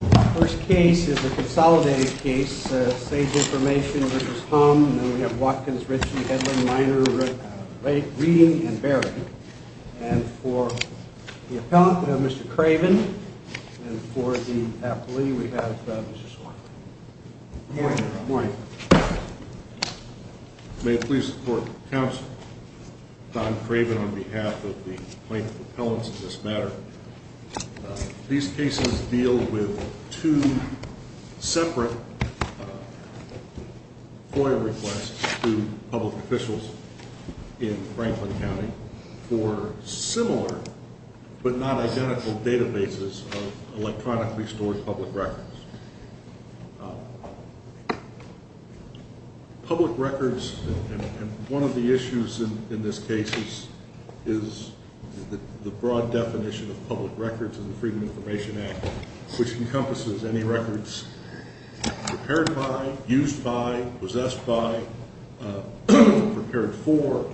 The first case is a consolidated case, Sage Information v. Humm, and we have Watkins, Ritchey, Headland, Minor, Reading, and Berry. And for the appellant, we have Mr. Craven, and for the appellee, we have Mr. Schor. Good morning. May I please support counsel Don Craven on behalf of the plaintiff's appellants in this matter. These cases deal with two separate FOIA requests to public officials in Franklin County for similar but not identical databases of electronically stored public records. Public records, and one of the issues in this case is the broad definition of public records in the Freedom of Information Act, which encompasses any records prepared by, used by, possessed by, prepared for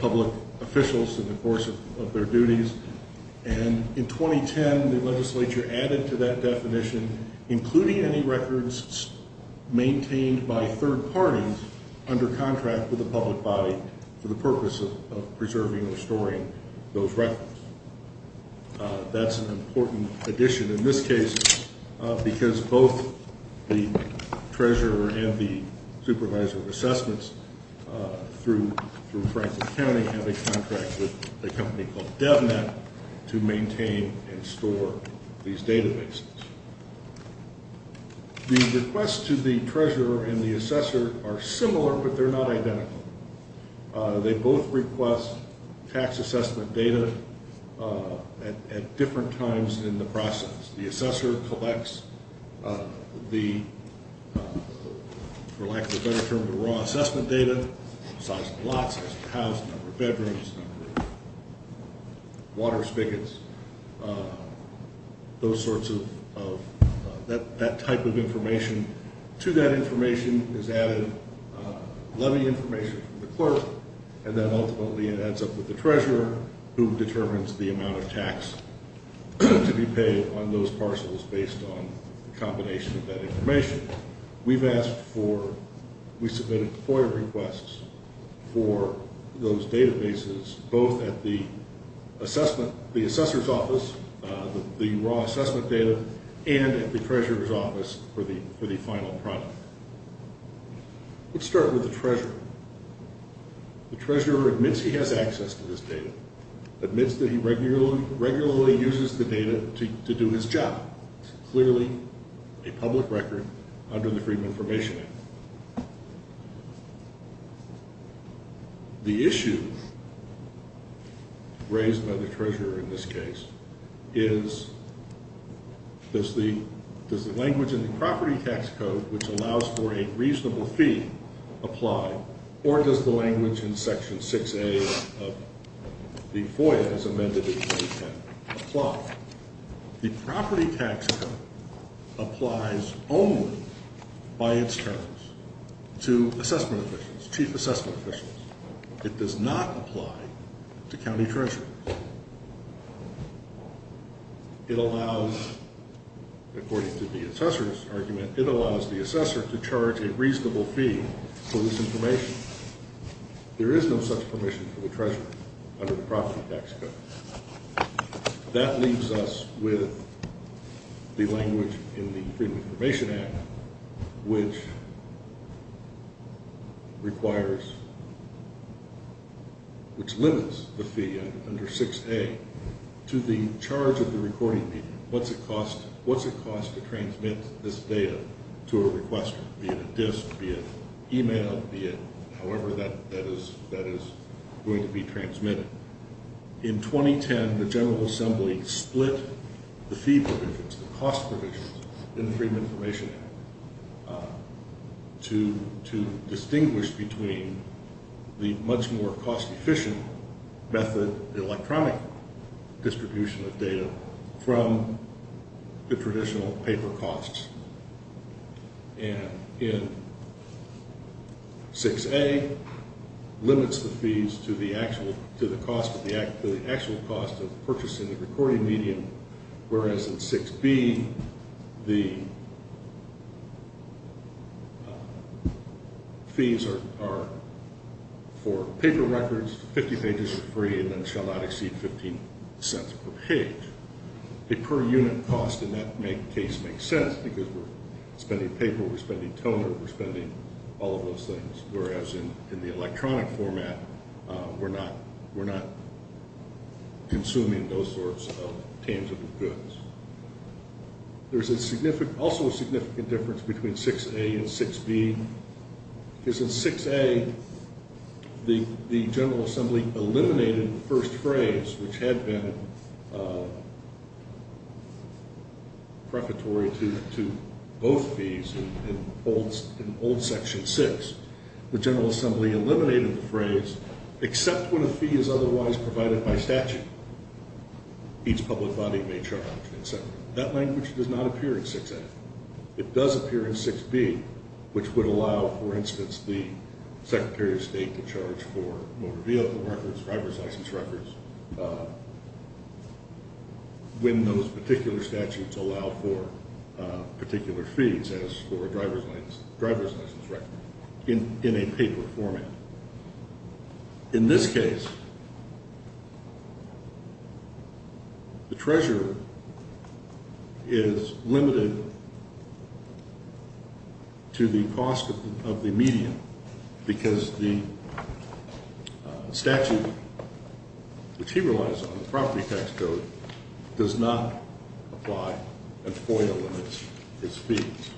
public officials in the course of their duties. And in 2010, the legislature added to that definition, including any records maintained by third parties under contract with the public body for the purpose of preserving or storing those records. That's an important addition in this case because both the treasurer and the supervisor of assessments through Franklin County have a contract with a company called DevNet to maintain and store these databases. The requests to the treasurer and the assessor are similar, but they're not identical. They both request tax assessment data at different times in the process. The assessor collects the, for lack of a better term, the raw assessment data, size of the lot, size of the house, number of bedrooms, number of water spigots, those sorts of, that type of information. To that information is added levy information from the clerk, and then ultimately it adds up with the treasurer who determines the amount of tax to be paid on those parcels based on the combination of that information. We've asked for, we submitted FOIA requests for those databases both at the assessor's office, the raw assessment data, and at the treasurer's office for the final product. Let's start with the treasurer. The treasurer admits he has access to this data, admits that he regularly uses the data to do his job. It's clearly a public record under the Freedom of Information Act. The issue raised by the treasurer in this case is, does the language in the property tax code, which allows for a reasonable fee, apply, or does the language in Section 6A of the FOIA, as amended in 2010, apply? The property tax code applies only by its terms to assessment officials, chief assessment officials. It does not apply to county treasurers. It allows, according to the assessor's argument, it allows the assessor to charge a reasonable fee for this information. There is no such permission for the treasurer under the property tax code. That leaves us with the language in the Freedom of Information Act, which requires, which limits the fee under 6A to the charge of the recording media. What's it cost to transmit this data to a requester, be it a disk, be it email, be it however that is going to be transmitted? In 2010, the General Assembly split the fee provisions, the cost provisions, in the Freedom of Information Act to distinguish between the much more cost-efficient method, the electronic distribution of data, from the traditional paper costs. And in 6A, limits the fees to the actual cost of purchasing the recording medium, whereas in 6B, the fees are for paper records, 50 pages for free, and then shall not exceed 15 cents per page. A per unit cost in that case makes sense, because we're spending paper, we're spending toner, we're spending all of those things, whereas in the electronic format, we're not consuming those sorts of tangible goods. There's also a significant difference between 6A and 6B, because in 6A, the General Assembly eliminated the first phrase, which had been prefatory to both fees in old Section 6. The General Assembly eliminated the phrase, except when a fee is otherwise provided by statute, each public body may charge, etc. In a paper format. In this case, the treasurer is limited to the cost of the medium, because the statute, which he relies on, the property tax code, does not apply a FOIA limit to his fees.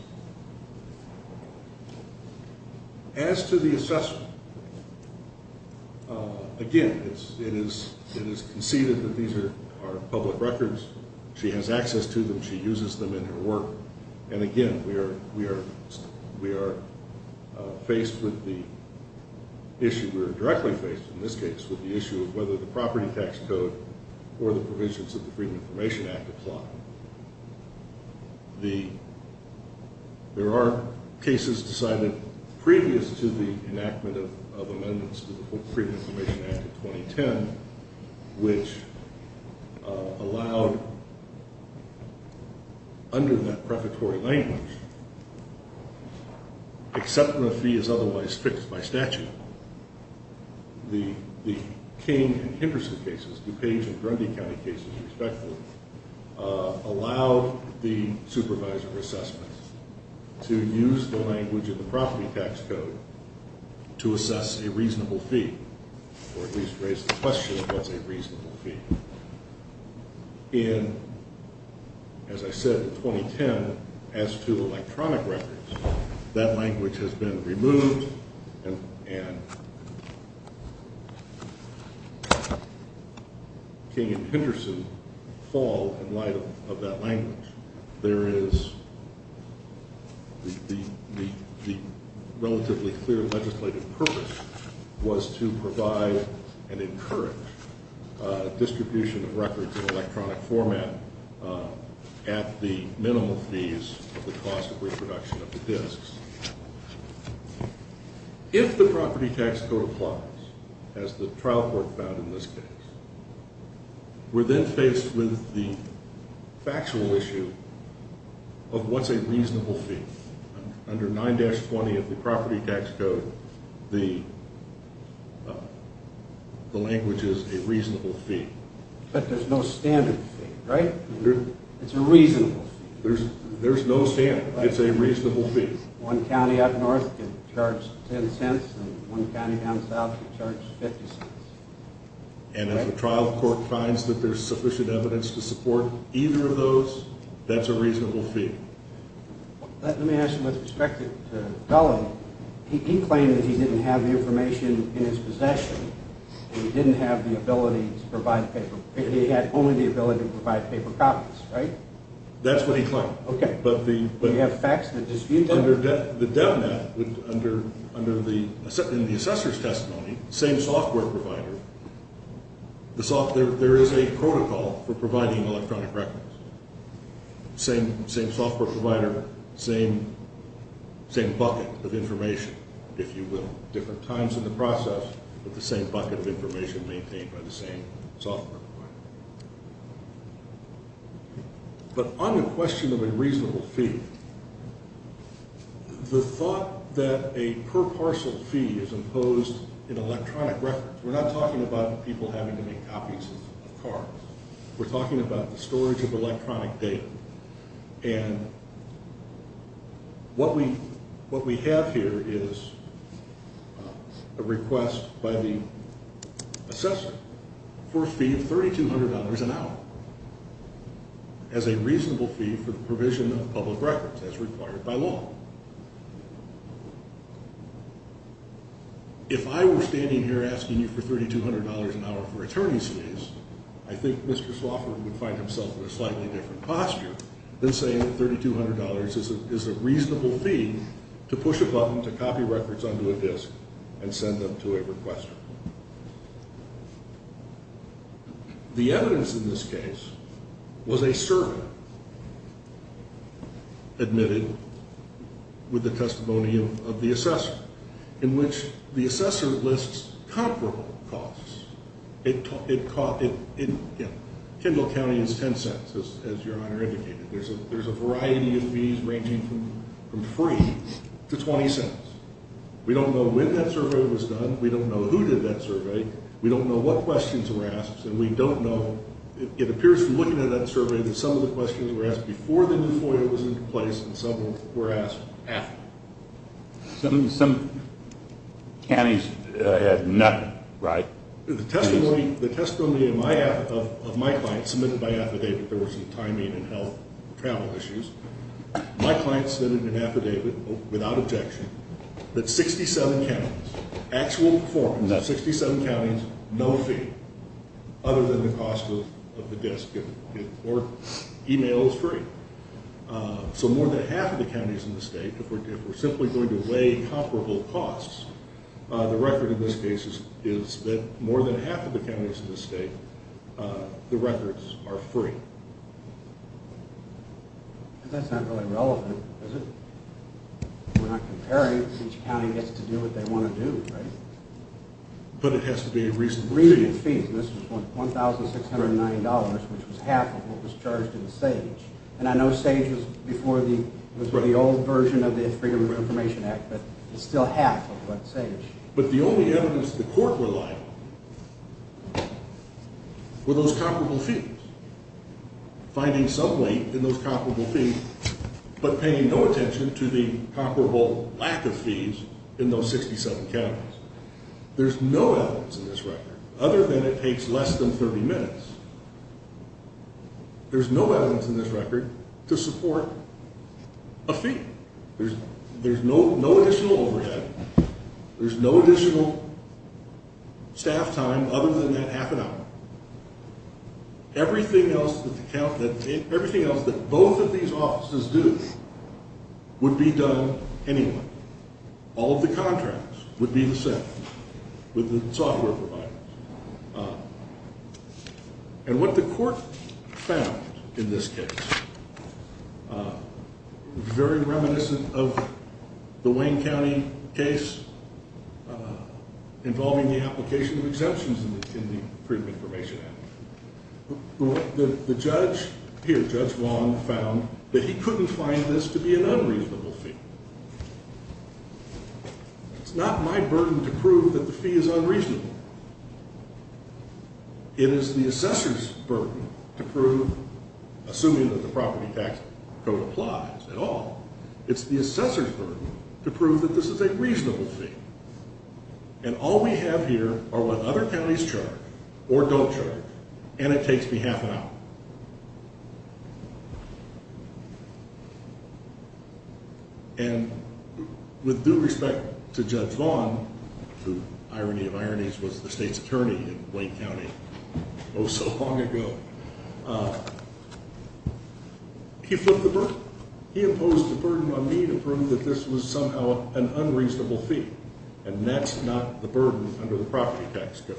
As to the assessment, again, it is conceded that these are public records. She has access to them, she uses them in her work, and again, we are faced with the issue, we are directly faced in this case, with the issue of whether the property tax code or the provisions of the Freedom of Information Act apply. There are cases decided previous to the enactment of amendments to the Freedom of Information Act of 2010, which allowed, under that prefatory language, except when a fee is otherwise fixed by statute. The King and Henderson cases, DuPage and Grundy County cases, respectively, allowed the supervisor of assessments to use the language of the property tax code to assess a reasonable fee, or at least raise the question of what's a reasonable fee. In, as I said, 2010, as to electronic records, that language has been removed, and King and Henderson fall in light of that language. The relatively clear legislative purpose was to provide and encourage distribution of records in electronic format at the minimal fees of the cost of reproduction of the disks. If the property tax code applies, as the trial court found in this case, we're then faced with the factual issue of what's a reasonable fee. Under 9-20 of the property tax code, the language is a reasonable fee. But there's no standard fee, right? It's a reasonable fee. There's no standard. It's a reasonable fee. One county up north could charge $0.10, and one county down south could charge $0.50. And if the trial court finds that there's sufficient evidence to support either of those, that's a reasonable fee. Let me ask you with respect to Dullo. He claimed that he didn't have the information in his possession, and he didn't have the ability to provide paper. He had only the ability to provide paper copies, right? That's what he claimed. You have facts that dispute that. Under the DevNet, in the assessor's testimony, same software provider, there is a protocol for providing electronic records. Same software provider, same bucket of information, if you will. Different times in the process, but the same bucket of information maintained by the same software provider. But on the question of a reasonable fee, the thought that a per parcel fee is imposed in electronic records, we're not talking about people having to make copies of cards. We're talking about the storage of electronic data. And what we have here is a request by the assessor for a fee of $3,200 an hour as a reasonable fee for the provision of public records as required by law. If I were standing here asking you for $3,200 an hour for attorney's fees, I think Mr. Swofford would find himself in a slightly different posture than saying that $3,200 is a reasonable fee to push a button to copy records onto a disk and send them to a requester. The evidence in this case was a survey admitted with the testimony of the assessor, in which the assessor lists comparable costs. It cost, you know, Kendall County is $0.10, as your Honor indicated. There's a variety of fees ranging from free to $0.20. We don't know when that survey was done. We don't know who did that survey. We don't know what questions were asked. And we don't know, it appears from looking at that survey that some of the questions were asked before the new FOIA was in place and some were asked after. Some counties had none, right? The testimony of my client submitted by affidavit, there was some timing and health travel issues. My client submitted an affidavit without objection that 67 counties, actual performance of 67 counties, no fee other than the cost of the disk or email is free. So more than half of the counties in the state, if we're simply going to weigh comparable costs, the record in this case is that more than half of the counties in the state, the records are free. That's not really relevant, is it? We're not comparing. Each county gets to do what they want to do, right? But it has to be a reasonable fee. A reasonable fee. This was $1,690, which was half of what was charged in SAGE. And I know SAGE was before the old version of the Freedom of Information Act, but it's still half of what SAGE. But the only evidence the court relied on were those comparable fees. Finding some weight in those comparable fees, but paying no attention to the comparable lack of fees in those 67 counties. There's no evidence in this record, other than it takes less than 30 minutes. There's no evidence in this record to support a fee. There's no additional overhead. There's no additional staff time other than that half an hour. Everything else that both of these offices do would be done anyway. All of the contracts would be the same with the software providers. And what the court found in this case, very reminiscent of the Wayne County case involving the application of exemptions in the Freedom of Information Act. The judge here, Judge Wong, found that he couldn't find this to be an unreasonable fee. It's not my burden to prove that the fee is unreasonable. It is the assessor's burden to prove, assuming that the property tax code applies at all, it's the assessor's burden to prove that this is a reasonable fee. And all we have here are what other counties charge, or don't charge, and it takes me half an hour. And with due respect to Judge Wong, who, irony of ironies, was the state's attorney in Wayne County oh so long ago, he flipped the burden. He imposed a burden on me to prove that this was somehow an unreasonable fee. And that's not the burden under the property tax code.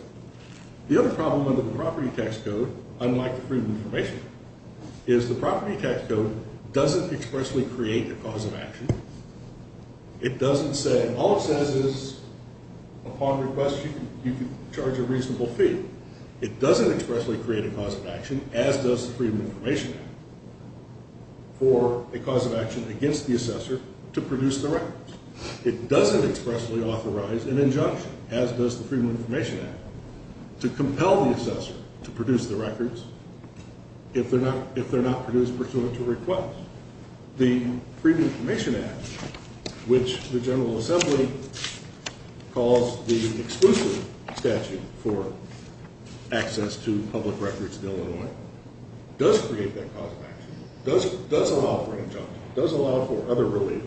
The other problem under the property tax code, unlike the Freedom of Information Act, is the property tax code doesn't expressly create a cause of action. It doesn't say, all it says is, upon request, you can charge a reasonable fee. It doesn't expressly create a cause of action, as does the Freedom of Information Act, for a cause of action against the assessor to produce the records. It doesn't expressly authorize an injunction, as does the Freedom of Information Act, to compel the assessor to produce the records if they're not produced pursuant to request. The Freedom of Information Act, which the General Assembly calls the exclusive statute for access to public records in Illinois, does create that cause of action, does allow for an injunction, does allow for other relief.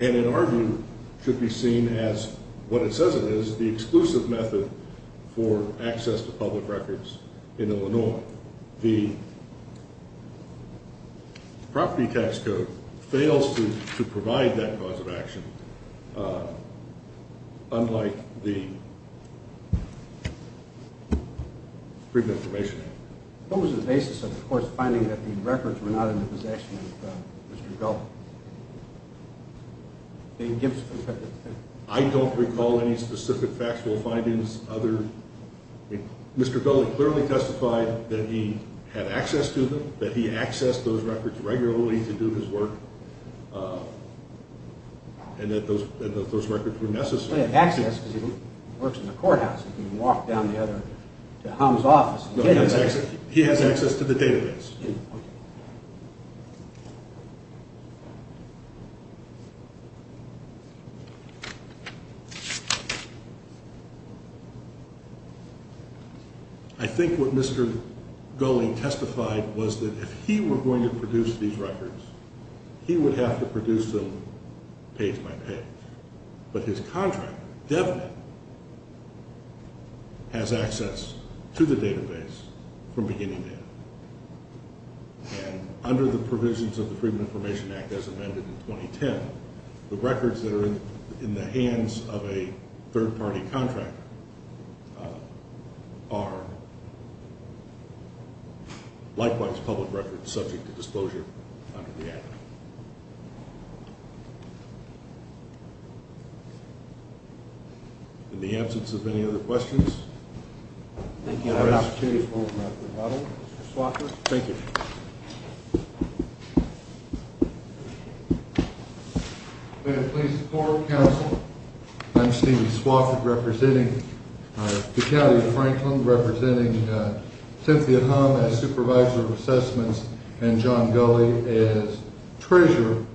And in our view, should be seen as, what it says it is, the exclusive method for access to public records in Illinois. So, the property tax code fails to provide that cause of action, unlike the Freedom of Information Act. What was the basis of the court's finding that the records were not in the possession of Mr. Gulley? I don't recall any specific factual findings other than Mr. Gulley clearly testified that he had access to them, that he accessed those records regularly to do his work, and that those records were necessary. He works in the courthouse. He can walk down to Hum's office. He has access to the database. I think what Mr. Gulley testified was that if he were going to produce these records, he would have to produce them page by page. But his contractor, DevNet, has access to the database from beginning to end. And under the provisions of the Freedom of Information Act as amended in 2010, the records that are in the hands of a third-party contractor are likewise public records subject to disclosure under the Act. In the absence of any other questions? Thank you. I have an opportunity to call Dr. Swofford. Thank you. May it please the court, counsel, I'm Stephen Swofford, representing the County of Franklin, representing Cynthia Hum as Supervisor of Assessments and John Gulley as Treasurer.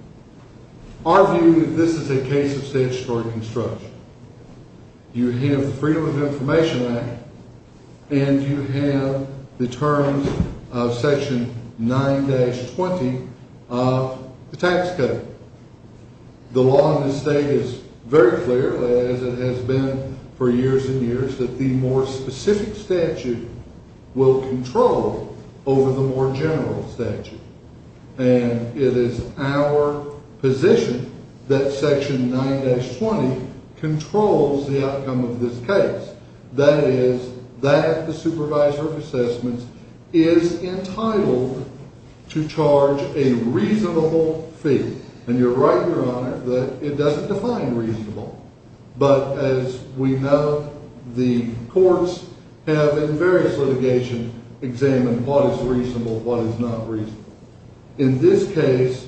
Our view is that this is a case of statutory construction. You have the Freedom of Information Act, and you have the terms of Section 9-20 of the tax code. The law in this state is very clear, as it has been for years and years, that the more specific statute will control over the more general statute. And it is our position that Section 9-20 controls the outcome of this case. That is, that the Supervisor of Assessments is entitled to charge a reasonable fee. And you're right, Your Honor, that it doesn't define reasonable. But as we know, the courts have, in various litigation, examined what is reasonable, what is not reasonable. In this case,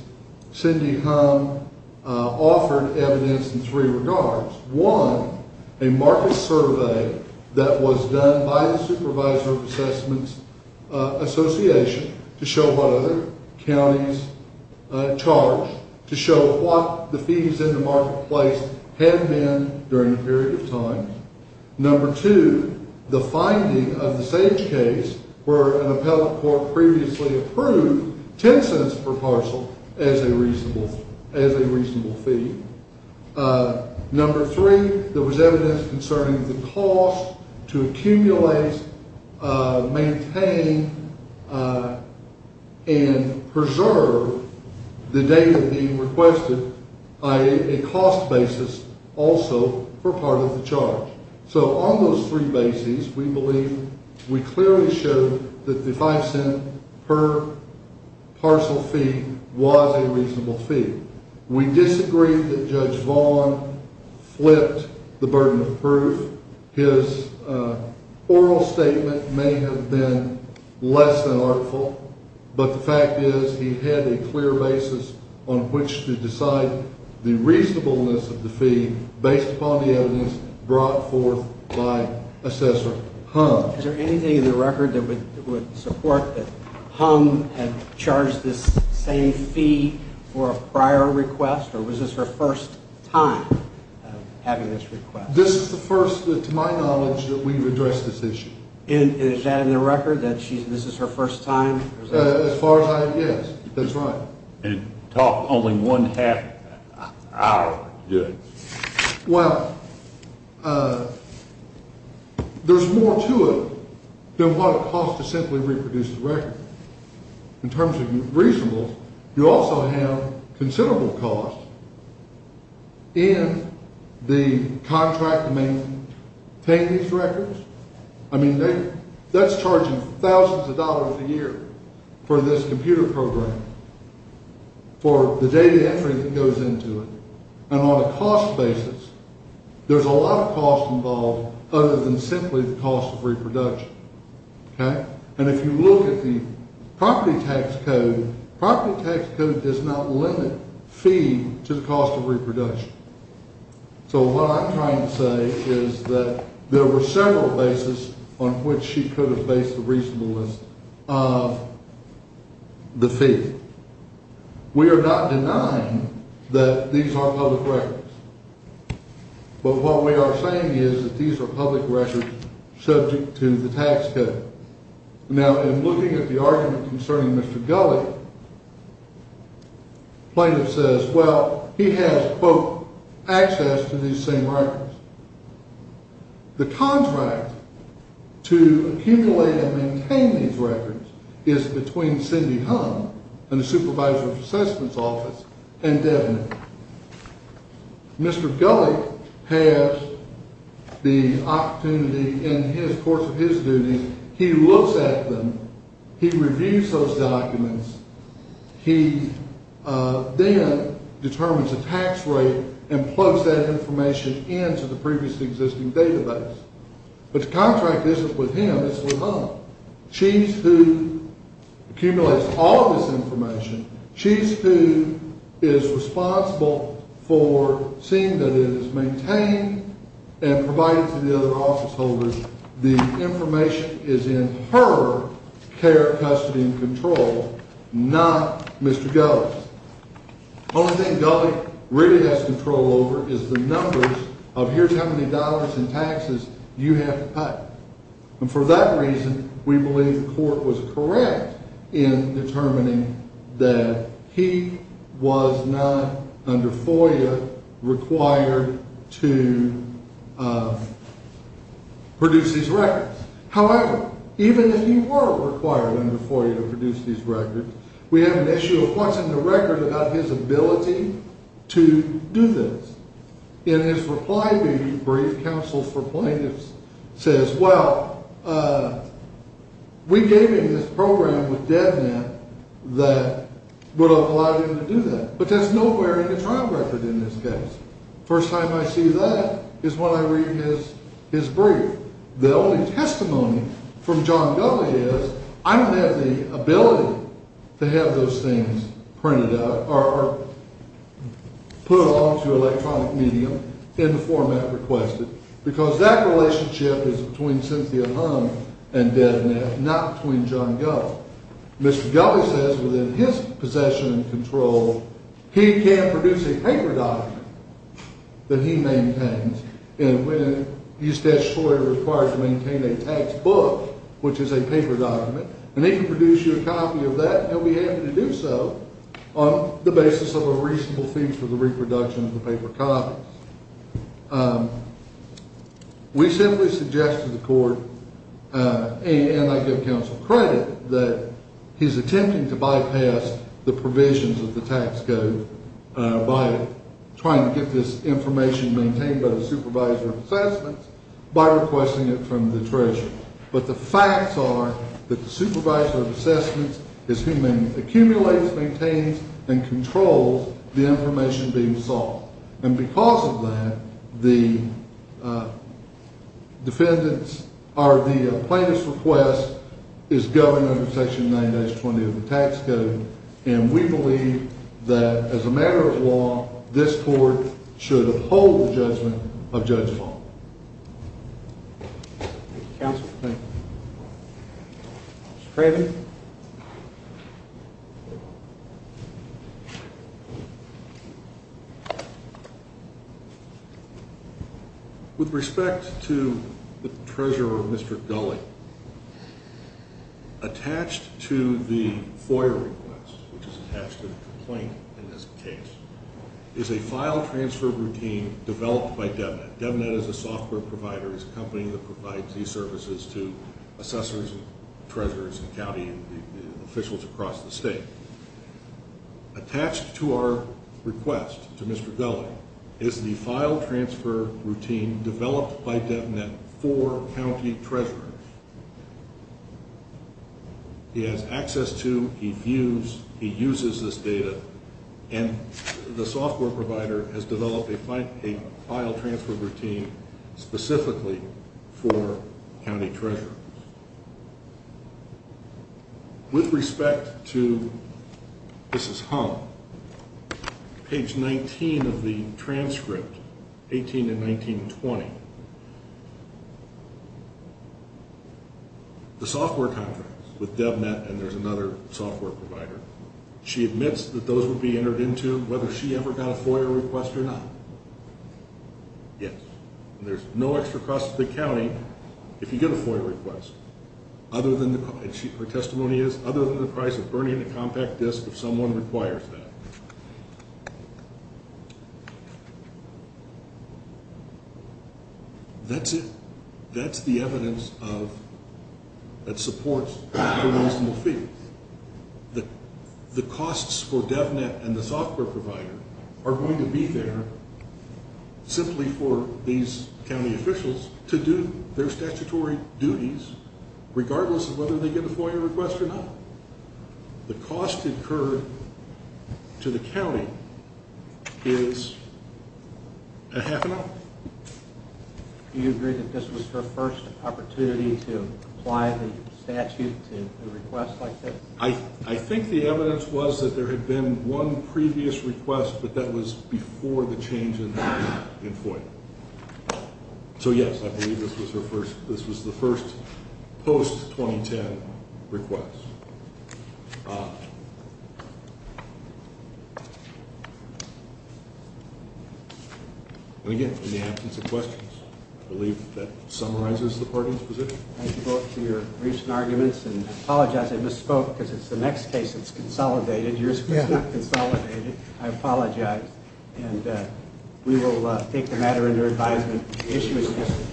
Cindy Hum offered evidence in three regards. One, a market survey that was done by the Supervisor of Assessments Association to show what other counties charge, to show what the fees in the marketplace have been during a period of time. Number two, the finding of the same case where an appellate court previously approved 10 cents per parcel as a reasonable fee. Number three, there was evidence concerning the cost to accumulate, maintain, and preserve the data being requested, i.e., a cost basis also for part of the charge. So on those three bases, we believe, we clearly showed that the 5 cents per parcel fee was a reasonable fee. We disagree that Judge Vaughn flipped the burden of proof. His oral statement may have been less than artful, but the fact is he had a clear basis on which to decide the reasonableness of the fee based upon the evidence brought forth by Assessor Hum. Is there anything in the record that would support that Hum had charged this same fee for a prior request, or was this her first time having this request? This is the first, to my knowledge, that we've addressed this issue. And is that in the record, that this is her first time? As far as I, yes, that's right. And it took only one half hour. Well, there's more to it than what it costs to simply reproduce the record. In terms of reasonableness, you also have considerable costs in the contract to maintain these records. I mean, that's charging thousands of dollars a year for this computer program for the data entry that goes into it. And on a cost basis, there's a lot of cost involved other than simply the cost of reproduction. And if you look at the property tax code, property tax code does not limit fee to the cost of reproduction. So what I'm trying to say is that there were several bases on which she could have based the reasonableness of the fee. We are not denying that these are public records. But what we are saying is that these are public records subject to the tax code. Now, in looking at the argument concerning Mr. Gulley, plaintiff says, well, he has, quote, access to these same records. The contract to accumulate and maintain these records is between Cindy Hunt and the Supervisor of the Assessment Office and Devin. Mr. Gulley has the opportunity in the course of his duty, he looks at them, he reviews those documents, he then determines a tax rate and plugs that information into the previous existing database. But the contract isn't with him, it's with her. She's who accumulates all of this information. She's who is responsible for seeing that it is maintained and provided to the other office holders. The information is in her care, custody, and control, not Mr. Gulley's. The only thing Gulley really has control over is the numbers of here's how many dollars in taxes you have to pay. And for that reason, we believe the court was correct in determining that he was not under FOIA required to produce these records. However, even if he were required under FOIA to produce these records, we have an issue of what's in the record about his ability to do this. In his reply brief, counsel for plaintiffs says, well, we gave him this program with DevNet that would have allowed him to do that. But that's nowhere in the trial record in this case. First time I see that is when I read his brief. The only testimony from John Gulley is I don't have the ability to have those things printed out or put onto electronic medium in the format requested. Because that relationship is between Cynthia Hung and DevNet, not between John Gulley. Mr. Gulley says within his possession and control, he can produce a paper document that he maintains. And when he's statutorily required to maintain a tax book, which is a paper document, and they can produce you a copy of that, and we have you to do so on the basis of a reasonable fee for the reproduction of the paper copies. We simply suggest to the court, and I give counsel credit, that he's attempting to bypass the provisions of the tax code by trying to get this information maintained by the supervisor of assessments by requesting it from the treasurer. But the facts are that the supervisor of assessments is who accumulates, maintains, and controls the information being sought. And because of that, the defendant's, or the plaintiff's, request is governed under section 90-20 of the tax code. And we believe that as a matter of law, this court should uphold the judgment of Judge Long. Thank you, counsel. Thank you. Mr. Franny. With respect to the treasurer, Mr. Gulley, attached to the FOIA request, which is attached to the complaint in this case, is a file transfer routine developed by DevNet. DevNet is a software provider. It's a company that provides these services to assessors and treasurers and county officials across the state. Attached to our request to Mr. Gulley is the file transfer routine developed by DevNet for county treasurers. He has access to, he views, he uses this data, and the software provider has developed a file transfer routine specifically for county treasurers. With respect to, this is hung, page 19 of the transcript, 18 and 19-20, the software contracts with DevNet, and there's another software provider, she admits that those would be entered into whether she ever got a FOIA request or not. Yes. And there's no extra cost to the county if you get a FOIA request, other than, her testimony is, other than the price of burning a compact disk if someone requires that. That's it. That's the evidence of, that supports the reasonable fee. The costs for DevNet and the software provider are going to be there simply for these county officials to do their statutory duties, regardless of whether they get a FOIA request or not. The cost incurred to the county is a half an hour. Do you agree that this was her first opportunity to apply the statute to a request like this? I think the evidence was that there had been one previous request, but that was before the change in FOIA. So yes, I believe this was her first, this was the first post-2010 request. And again, in the absence of questions, I believe that summarizes the court's position. Thank you both for your recent arguments, and I apologize, I misspoke, because it's the next case that's consolidated, yours was not consolidated. I apologize. And we will take the matter into advisement. The issue is history.